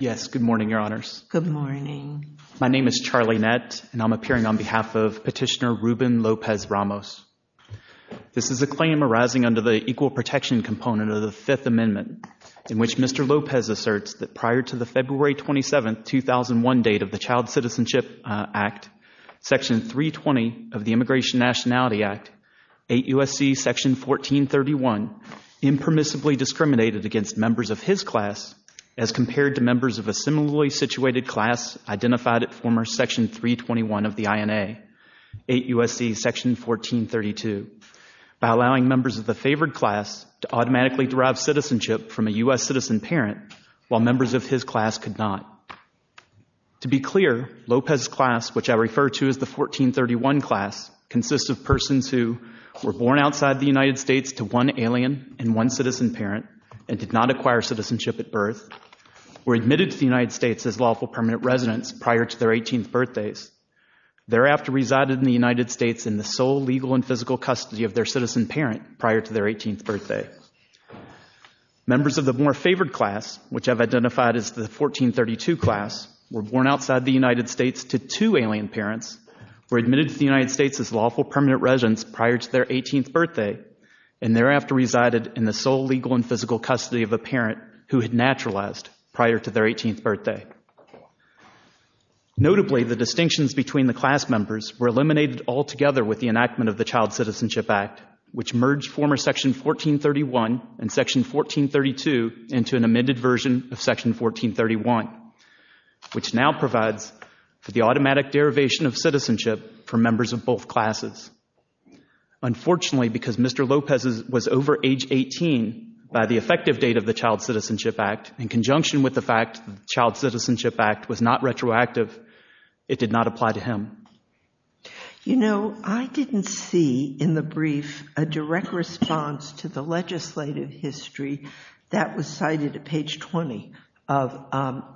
Yes, good morning, your honors. Good morning. My name is Charlie Nett and I'm appearing on behalf of Petitioner Ruben Lopez Ramos. This is a claim arising under the Equal Protection Component of the Fifth Amendment in which Mr. Lopez asserts that prior to the February 27, 2001 date of the Child Citizenship Act, Section 320 of the Immigration Nationality Act, 8 U.S.C. Section 1431 impermissibly discriminated against members of his class as compared to members of a similarly situated class identified at former Section 321 of the INA, 8 U.S.C. Section 1432, by allowing members of the favored class to automatically derive citizenship from a U.S. citizen parent while members of his class could not. To be clear, Lopez's class, which I refer to as the 1431 class, consists of persons who were born outside the United States to one alien and one citizen parent and did not acquire citizenship at birth, were admitted to the United States as lawful permanent residents prior to their 18th birthdays, thereafter resided in the United States in the sole legal and physical custody of their citizen parent prior to their 18th birthday. Members of the more favored class, which I've identified as the 1432 class, were born outside the United States to two alien parents, were admitted to the United States as lawful permanent residents prior to their 18th birthday, and thereafter resided in the sole legal and physical custody of a parent who had naturalized prior to their 18th birthday. Notably, the distinctions between the class members were eliminated altogether with the enactment of the Child Citizenship Act, which merged former Section 1431 and Section 1432 into an amended version of Section 1431, which now provides for the automatic derivation of citizenship for members of both classes. Unfortunately, because Mr. Lopez was over age 18 by the effective date of the Child Citizenship Act, in conjunction with the fact that the Child Citizenship Act was not retroactive, it did not apply to him. You know, I didn't see in the brief a direct response to the legislative history that was cited at page 20 of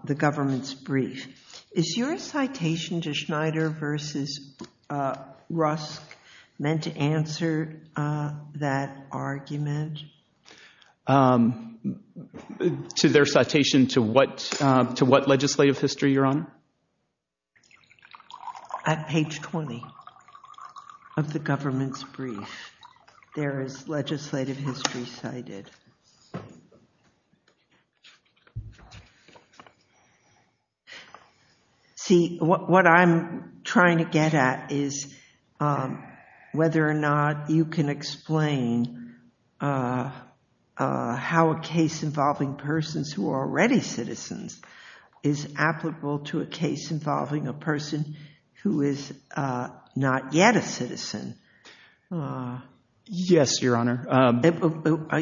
the government's brief. Is your citation to Schneider v. Rusk meant to answer that argument? To their citation to what legislative history, Your Honor? At page 20 of the government's brief, there is legislative history cited. See, what I'm trying to get at is whether or not you can explain how a case involving persons who are already citizens is applicable to a case involving a person who is not yet a citizen. Yes, Your Honor.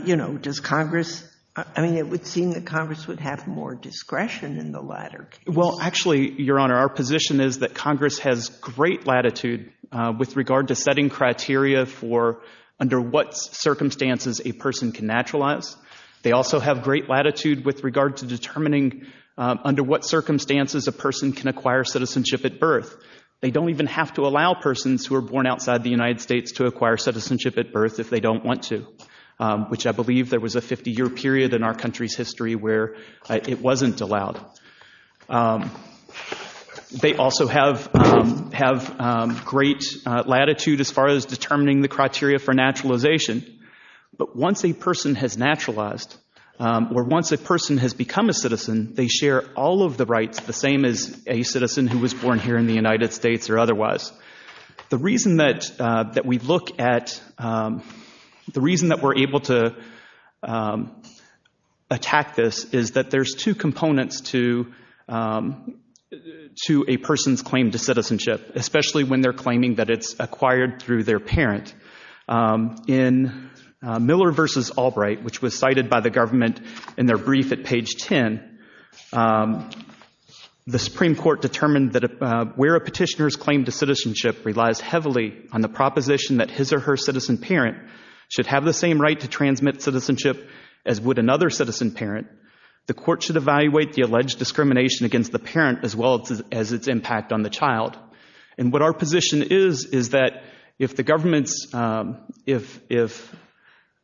You know, does Congress—I mean, it would seem that Congress would have more discretion in the latter case. Well, actually, Your Honor, our position is that Congress has great latitude with regard to setting criteria for under what circumstances a person can naturalize. They also have great latitude with regard to determining under what circumstances a person can acquire citizenship at birth. They don't even have to allow persons who are born outside the United States to acquire citizenship at birth if they don't want to, which I believe there was a 50-year period in our country's history where it wasn't allowed. They also have great latitude as far as determining the criteria for naturalization. But once a person has naturalized or once a person has become a citizen, they share all of the rights, the same as a citizen who was born here in the United States or otherwise. The reason that we look at—the reason that we're able to attack this is that there's two components to a person's claim to citizenship, especially when they're claiming that it's acquired through their parent. In Miller v. Albright, which was cited by the government in their brief at page 10, the Supreme Court determined that where a petitioner's claim to citizenship relies heavily on the proposition that his or her citizen parent should have the same right to transmit citizenship as would another citizen parent, the court should evaluate the alleged discrimination against the parent as well as its impact on the child. And what our position is is that if the government's—if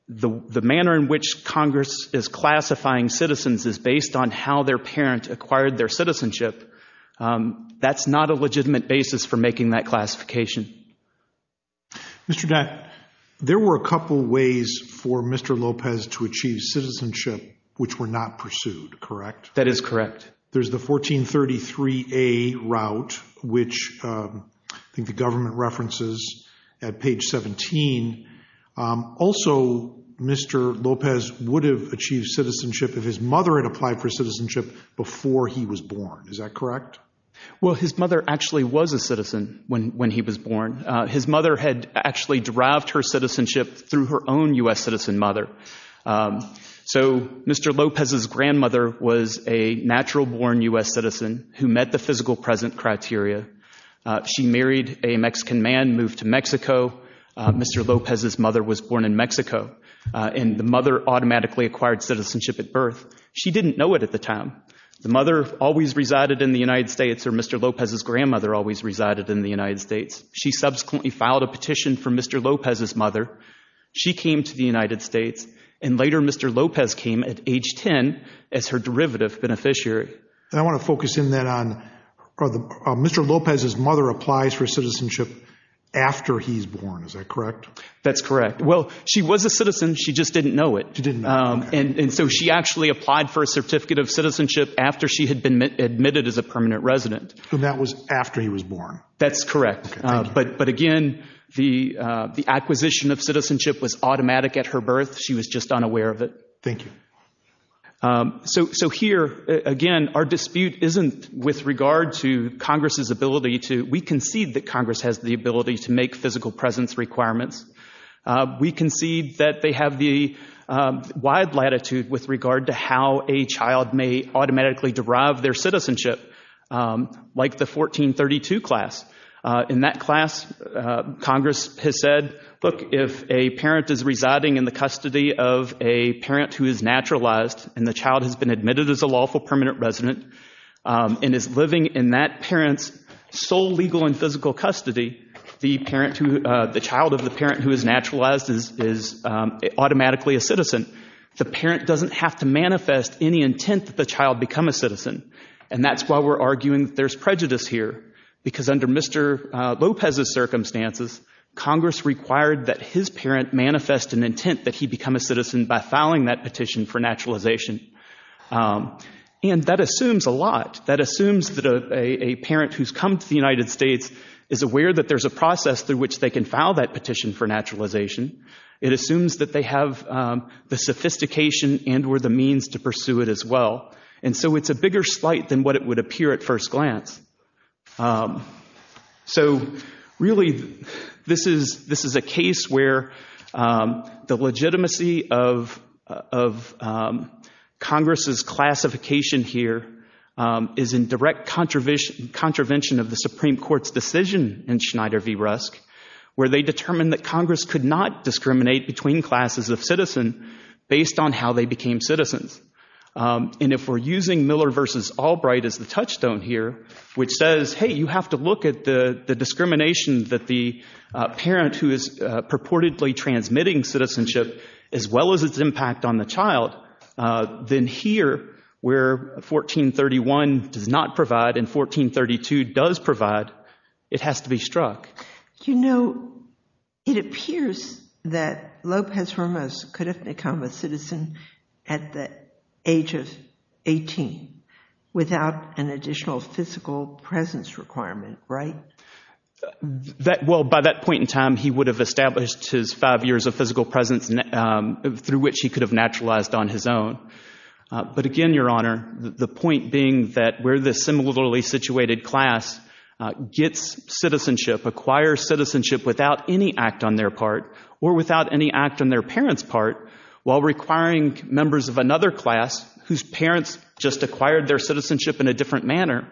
the manner in which Congress is classifying citizens is based on how their parent acquired their citizenship, that's not a legitimate basis for making that classification. Mr. Dent, there were a couple ways for Mr. Lopez to achieve citizenship which were not pursued, correct? That is correct. There's the 1433A route, which I think the government references at page 17. Also, Mr. Lopez would have achieved citizenship if his mother had applied for citizenship before he was born. Is that correct? Well, his mother actually was a citizen when he was born. His mother had actually derived her citizenship through her own U.S. citizen mother. So Mr. Lopez's grandmother was a natural-born U.S. citizen who met the physical present criteria. She married a Mexican man, moved to Mexico. Mr. Lopez's mother was born in Mexico, and the mother automatically acquired citizenship at birth. She didn't know it at the time. The mother always resided in the United States, or Mr. Lopez's grandmother always resided in the United States. She subsequently filed a petition for Mr. Lopez's mother. She came to the United States, and later Mr. Lopez came at age 10 as her derivative beneficiary. And I want to focus in then on Mr. Lopez's mother applies for citizenship after he's born. Is that correct? That's correct. Well, she was a citizen. She just didn't know it. She didn't know. After she had been admitted as a permanent resident. And that was after he was born. That's correct. But again, the acquisition of citizenship was automatic at her birth. She was just unaware of it. Thank you. So here, again, our dispute isn't with regard to Congress's ability to. We concede that Congress has the ability to make physical presence requirements. We concede that they have the wide latitude with regard to how a child may automatically derive their citizenship, like the 1432 class. In that class, Congress has said, look, if a parent is residing in the custody of a parent who is naturalized, and the child has been admitted as a lawful permanent resident and is living in that parent's sole legal and physical custody, the child of the parent who is naturalized is automatically a citizen. The parent doesn't have to manifest any intent that the child become a citizen. And that's why we're arguing that there's prejudice here, because under Mr. Lopez's circumstances, Congress required that his parent manifest an intent that he become a citizen by filing that petition for naturalization. And that assumes a lot. That assumes that a parent who's come to the United States is aware that there's a process through which they can file that petition for naturalization. It assumes that they have the sophistication and or the means to pursue it as well. And so it's a bigger slight than what it would appear at first glance. So really, this is a case where the legitimacy of Congress's classification here is in direct contravention of the Supreme Court's decision in Schneider v. Rusk, where they determined that Congress could not discriminate between classes of citizen based on how they became citizens. And if we're using Miller v. Albright as the touchstone here, which says, hey, you have to look at the discrimination that the parent who is purportedly transmitting citizenship, as well as its impact on the child, then here, where 1431 does not provide and 1432 does provide, it has to be struck. You know, it appears that Lopez Ramos could have become a citizen at the age of 18 without an additional physical presence requirement, right? Well, by that point in time, he would have established his five years of physical presence through which he could have naturalized on his own. But again, Your Honor, the point being that where the similarly situated class gets citizenship, acquires citizenship without any act on their part or without any act on their parents' part, while requiring members of another class whose parents just acquired their citizenship in a different manner.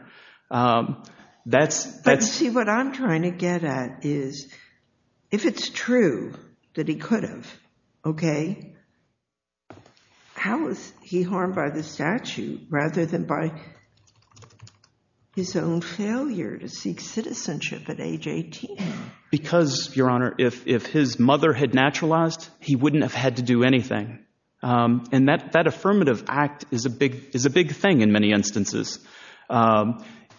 But see, what I'm trying to get at is, if it's true that he could have, OK, how is he harmed by the statute rather than by his own failure to seek citizenship at age 18? Because, Your Honor, if his mother had naturalized, he wouldn't have had to do anything. And that affirmative act is a big thing in many instances.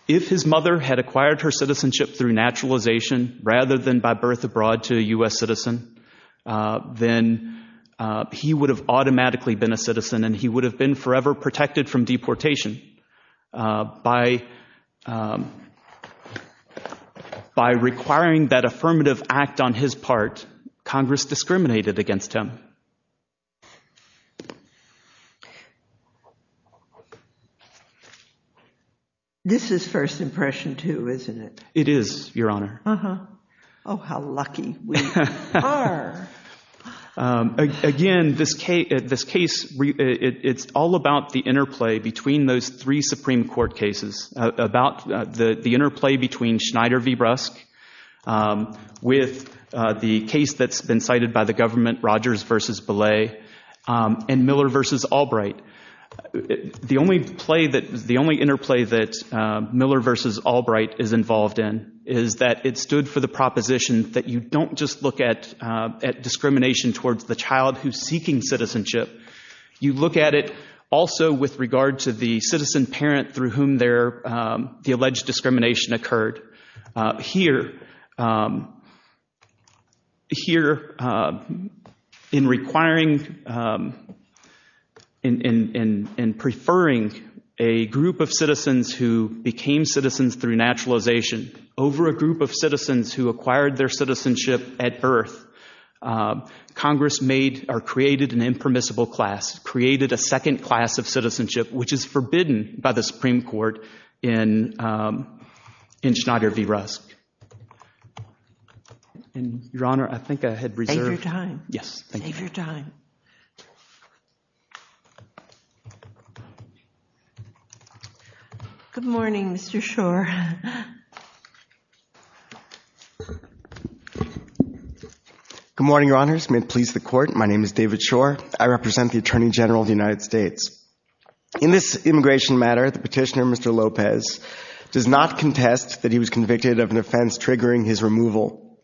If his mother had acquired her citizenship through naturalization rather than by birth abroad to a U.S. citizen, then he would have automatically been a citizen and he would have been forever protected from deportation. By requiring that affirmative act on his part, Congress discriminated against him. This is first impression, too, isn't it? It is, Your Honor. Oh, how lucky we are. Again, this case, it's all about the interplay between those three Supreme Court cases, about the interplay between Schneider v. Brusk with the case that's been cited by the government, Rogers v. Belay, and Miller v. Albright. The only interplay that Miller v. Albright is involved in is that it stood for the proposition that you don't just look at discrimination towards the child who's seeking citizenship. You look at it also with regard to the citizen parent through whom the alleged discrimination occurred. Here, in requiring and preferring a group of citizens who became citizens through naturalization over a group of citizens who acquired their citizenship at birth, Congress created an impermissible class, created a second class of citizenship, which is forbidden by the Supreme Court in Schneider v. Brusk. And, Your Honor, I think I had reserved— Save your time. Yes, thank you. Save your time. Good morning, Mr. Schor. Good morning, Your Honors. May it please the Court, my name is David Schor. I represent the Attorney General of the United States. In this immigration matter, the petitioner, Mr. Lopez, does not contest that he was convicted of an offense triggering his removal.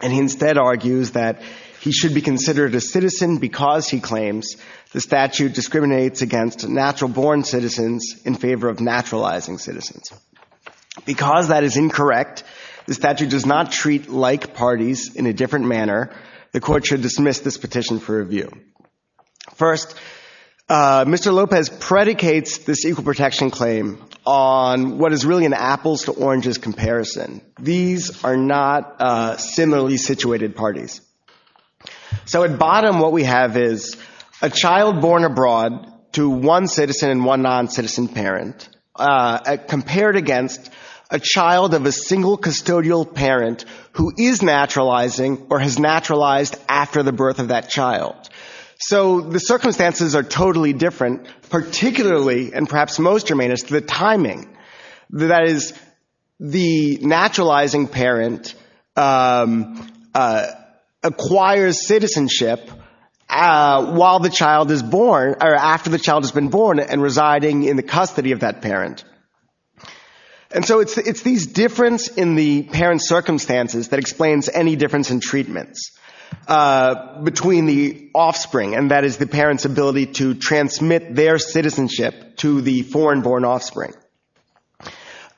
And he instead argues that he should be considered a citizen because, he claims, the statute discriminates against natural-born citizens in favor of naturalizing citizens. Because that is incorrect, the statute does not treat like parties in a different manner. The Court should dismiss this petition for review. First, Mr. Lopez predicates this equal protection claim on what is really an apples-to-oranges comparison. These are not similarly situated parties. So at bottom, what we have is a child born abroad to one citizen and one non-citizen parent compared against a child of a single custodial parent who is naturalizing or has naturalized after the birth of that child. So the circumstances are totally different, particularly, and perhaps most germane, is the timing. That is, the naturalizing parent acquires citizenship while the child is born, or after the child has been born and residing in the custody of that parent. And so it's these difference in the parent's circumstances that explains any difference in treatments between the offspring, and that is the parent's ability to transmit their citizenship to the foreign-born offspring.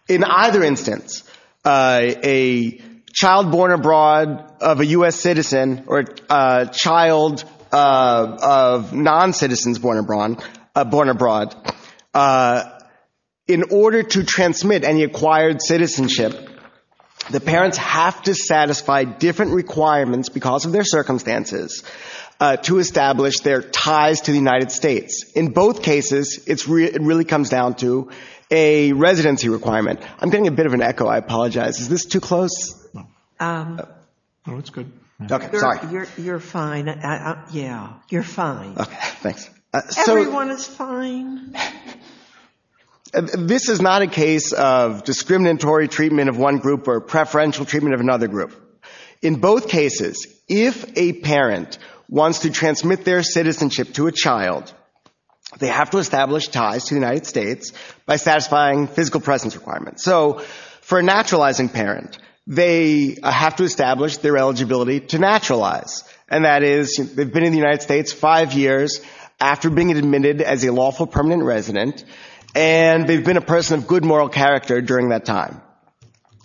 In either instance, a child born abroad of a U.S. citizen or a child of non-citizens born abroad, in order to transmit any acquired citizenship, the parents have to satisfy different requirements because of their circumstances to establish their ties to the United States. In both cases, it really comes down to a residency requirement. I'm getting a bit of an echo. I apologize. Is this too close? No, it's good. Okay, sorry. You're fine. Yeah, you're fine. Okay, thanks. Everyone is fine. This is not a case of discriminatory treatment of one group or preferential treatment of another group. In both cases, if a parent wants to transmit their citizenship to a child, they have to establish ties to the United States by satisfying physical presence requirements. So for a naturalizing parent, they have to establish their eligibility to naturalize, and that is they've been in the United States five years after being admitted as a lawful permanent resident, and they've been a person of good moral character during that time.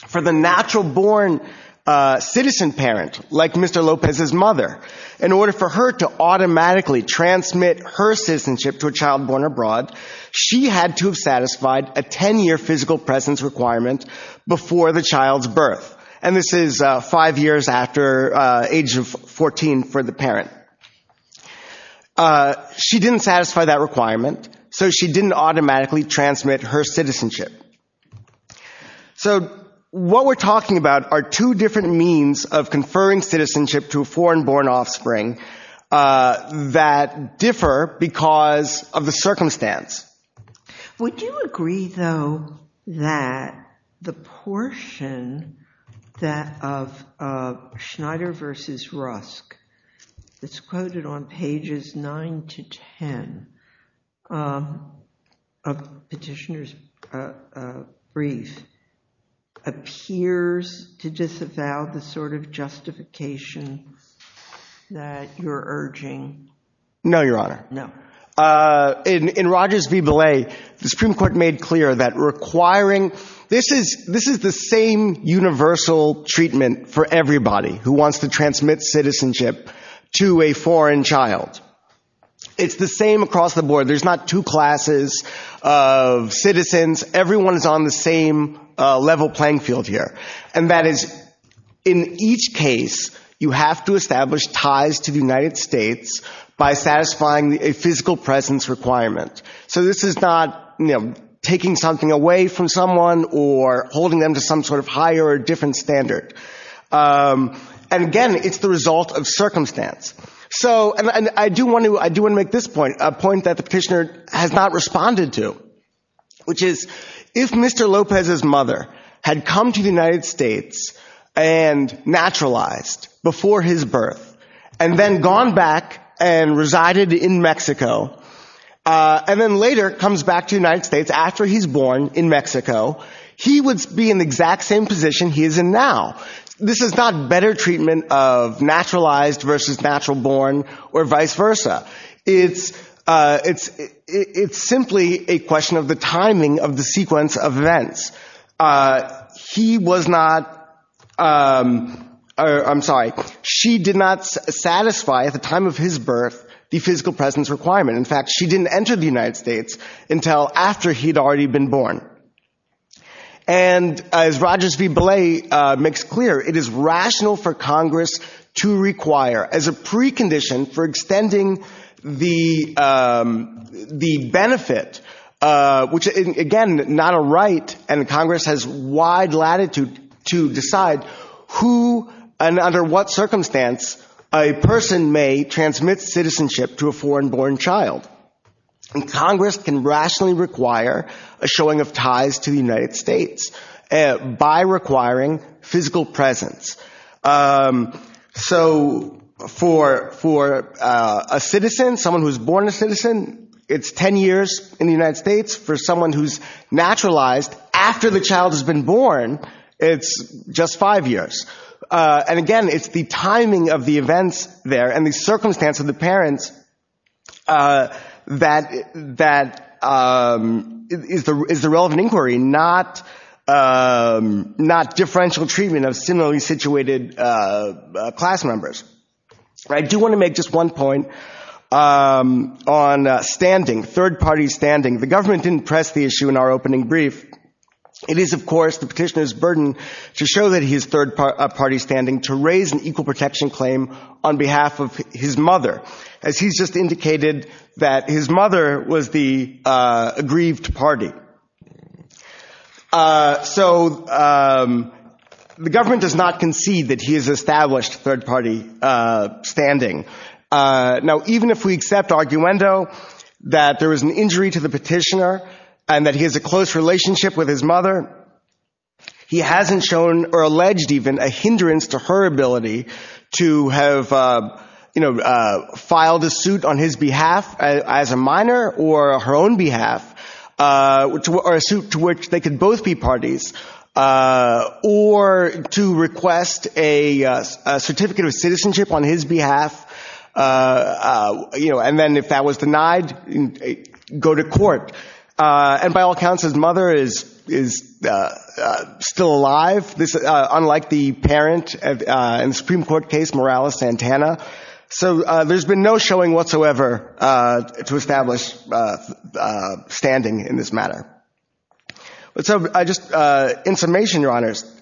For the natural-born citizen parent, like Mr. Lopez's mother, in order for her to automatically transmit her citizenship to a child born abroad, she had to have satisfied a 10-year physical presence requirement before the child's birth, and this is five years after age of 14 for the parent. She didn't satisfy that requirement, so she didn't automatically transmit her citizenship. So what we're talking about are two different means of conferring citizenship to a foreign-born offspring that differ because of the circumstance. Would you agree, though, that the portion of Schneider v. Rusk that's quoted on pages 9 to 10 of Petitioner's brief appears to disavow the sort of justification that you're urging? No, Your Honor. In Rogers v. Belay, the Supreme Court made clear that requiring— This is the same universal treatment for everybody who wants to transmit citizenship to a foreign child. It's the same across the board. There's not two classes of citizens. Everyone is on the same level playing field here, and that is, in each case, you have to establish ties to the United States by satisfying a physical presence requirement. So this is not taking something away from someone or holding them to some sort of higher or different standard. And again, it's the result of circumstance. And I do want to make this point, a point that the petitioner has not responded to, which is, if Mr. Lopez's mother had come to the United States and naturalized before his birth and then gone back and resided in Mexico and then later comes back to the United States after he's born in Mexico, he would be in the exact same position he is in now. This is not better treatment of naturalized versus natural born or vice versa. It's simply a question of the timing of the sequence of events. He was not—I'm sorry. She did not satisfy at the time of his birth the physical presence requirement. In fact, she didn't enter the United States until after he'd already been born. And as Rogers v. Belay makes clear, it is rational for Congress to require as a precondition for extending the benefit, which, again, not a right, and Congress has wide latitude to decide who and under what circumstance a person may transmit citizenship to a foreign-born child. And Congress can rationally require a showing of ties to the United States by requiring physical presence. So for a citizen, someone who's born a citizen, it's 10 years in the United States. For someone who's naturalized after the child has been born, it's just five years. And again, it's the timing of the events there and the circumstance of the parents that is the relevant inquiry, not differential treatment of similarly situated class members. I do want to make just one point on standing, third-party standing. The government didn't press the issue in our opening brief. It is, of course, the petitioner's burden to show that he is third-party standing to raise an equal protection claim on behalf of his mother, as he's just indicated that his mother was the aggrieved party. So the government does not concede that he is established third-party standing. Now, even if we accept arguendo that there is an injury to the petitioner and that he has a close relationship with his mother, he hasn't shown or alleged even a hindrance to her ability to have filed a suit on his behalf as a minor or her own behalf, or a suit to which they could both be parties, or to request a certificate of citizenship on his behalf. And then if that was denied, go to court. And by all accounts, his mother is still alive, unlike the parent in the Supreme Court case, Morales-Santana. So there's been no showing whatsoever to establish standing in this matter. So in summation, Your Honors,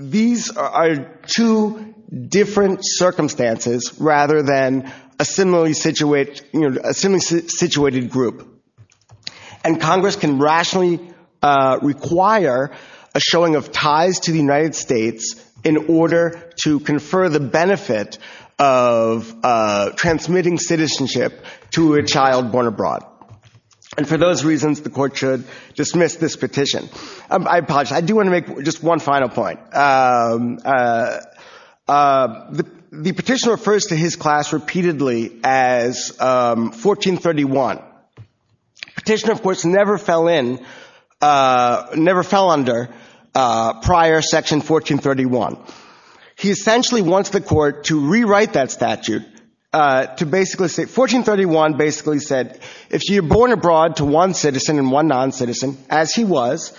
these are two different circumstances rather than a similarly situated group. And Congress can rationally require a showing of ties to the United States in order to confer the benefit of transmitting citizenship to a child born abroad. And for those reasons, the Court should dismiss this petition. I apologize. I do want to make just one final point. The petitioner refers to his class repeatedly as 1431. The petitioner, of course, never fell under prior Section 1431. He essentially wants the Court to rewrite that statute to basically say, 1431 basically said, if you're born abroad to one citizen and one non-citizen, as he was,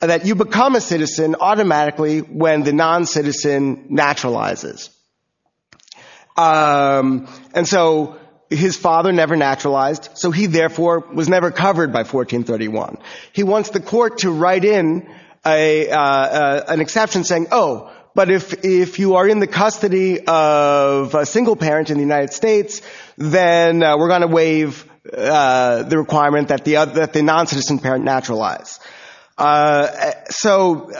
that you become a citizen automatically when the non-citizen naturalizes. And so his father never naturalized, and he, therefore, was never covered by 1431. He wants the Court to write in an exception saying, oh, but if you are in the custody of a single parent in the United States, then we're going to waive the requirement that the non-citizen parent naturalize. So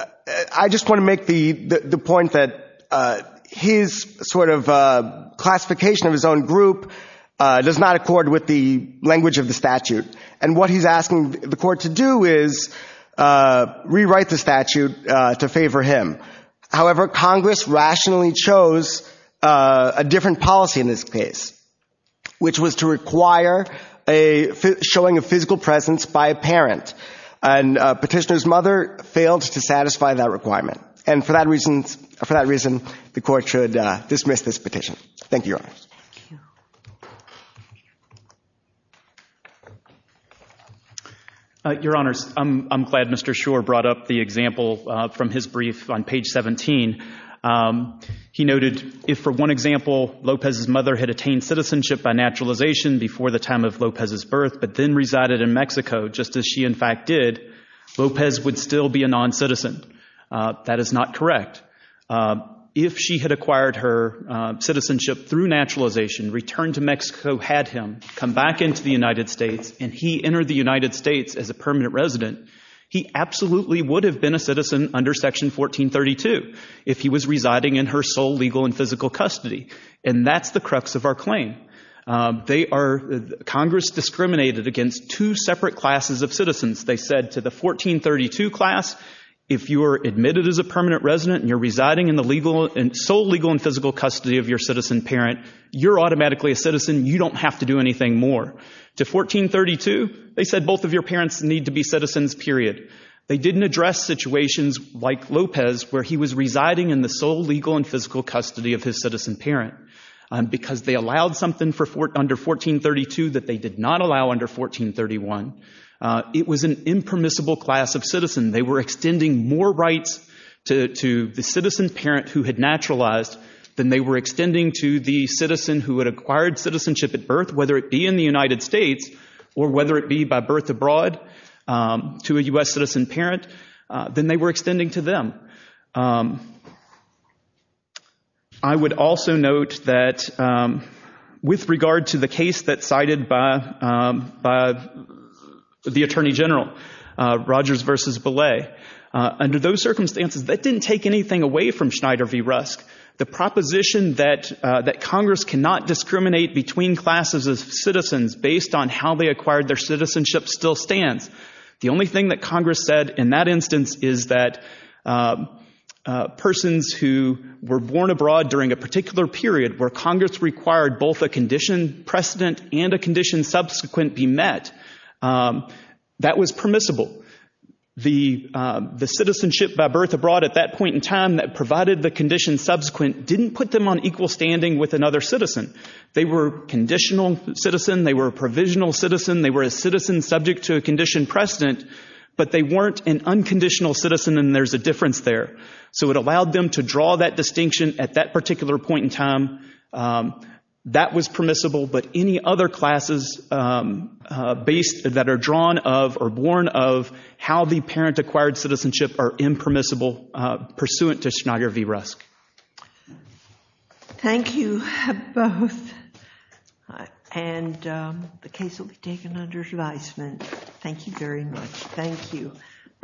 I just want to make the point that his sort of classification of his own group does not accord with the language of the statute. And what he's asking the Court to do is rewrite the statute to favor him. However, Congress rationally chose a different policy in this case, which was to require a showing of physical presence by a parent. And petitioner's mother failed to satisfy that requirement. And for that reason, the Court should dismiss this petition. Thank you, Your Honor. Your Honor, I'm glad Mr. Schor brought up the example from his brief on page 17. He noted, if for one example, Lopez's mother had attained citizenship by naturalization before the time of Lopez's birth, but then resided in Mexico, just as she, in fact, did, Lopez would still be a non-citizen. That is not correct. If she had acquired her citizenship through naturalization, returned to Mexico, had him come back into the United States, and he entered the United States as a permanent resident, he absolutely would have been a citizen under Section 1432 if he was residing in her sole legal and physical custody. And that's the crux of our claim. They are—Congress discriminated against two separate classes of citizens. They said to the 1432 class, if you were admitted as a permanent resident and you're residing in the sole legal and physical custody of your citizen parent, you're automatically a citizen, you don't have to do anything more. To 1432, they said both of your parents need to be citizens, period. They didn't address situations like Lopez where he was residing in the sole legal and physical custody of his citizen parent because they allowed something under 1432 that they did not allow under 1431. It was an impermissible class of citizen. They were extending more rights to the citizen parent who had naturalized than they were extending to the citizen who had acquired citizenship at birth, whether it be in the United States or whether it be by birth abroad to a U.S. citizen parent than they were extending to them. I would also note that with regard to the case that cited by the Attorney General, Rogers v. Belay, under those circumstances, that didn't take anything away from Schneider v. Rusk. The proposition that Congress cannot discriminate between classes of citizens based on how they acquired their citizenship still stands. The only thing that Congress said in that instance is that persons who were born abroad during a particular period where Congress required both a condition precedent and a condition subsequent be met, that was permissible. The citizenship by birth abroad at that point in time that provided the condition subsequent didn't put them on equal standing with another citizen. They were a conditional citizen. They were a provisional citizen. They were a citizen subject to a condition precedent, but they weren't an unconditional citizen, and there's a difference there. So it allowed them to draw that distinction at that particular point in time. That was permissible, but any other classes that are drawn of or born of how the parent acquired citizenship are impermissible pursuant to Schneider v. Rusk. Thank you both, and the case will be taken under advisement. Thank you very much. Thank you.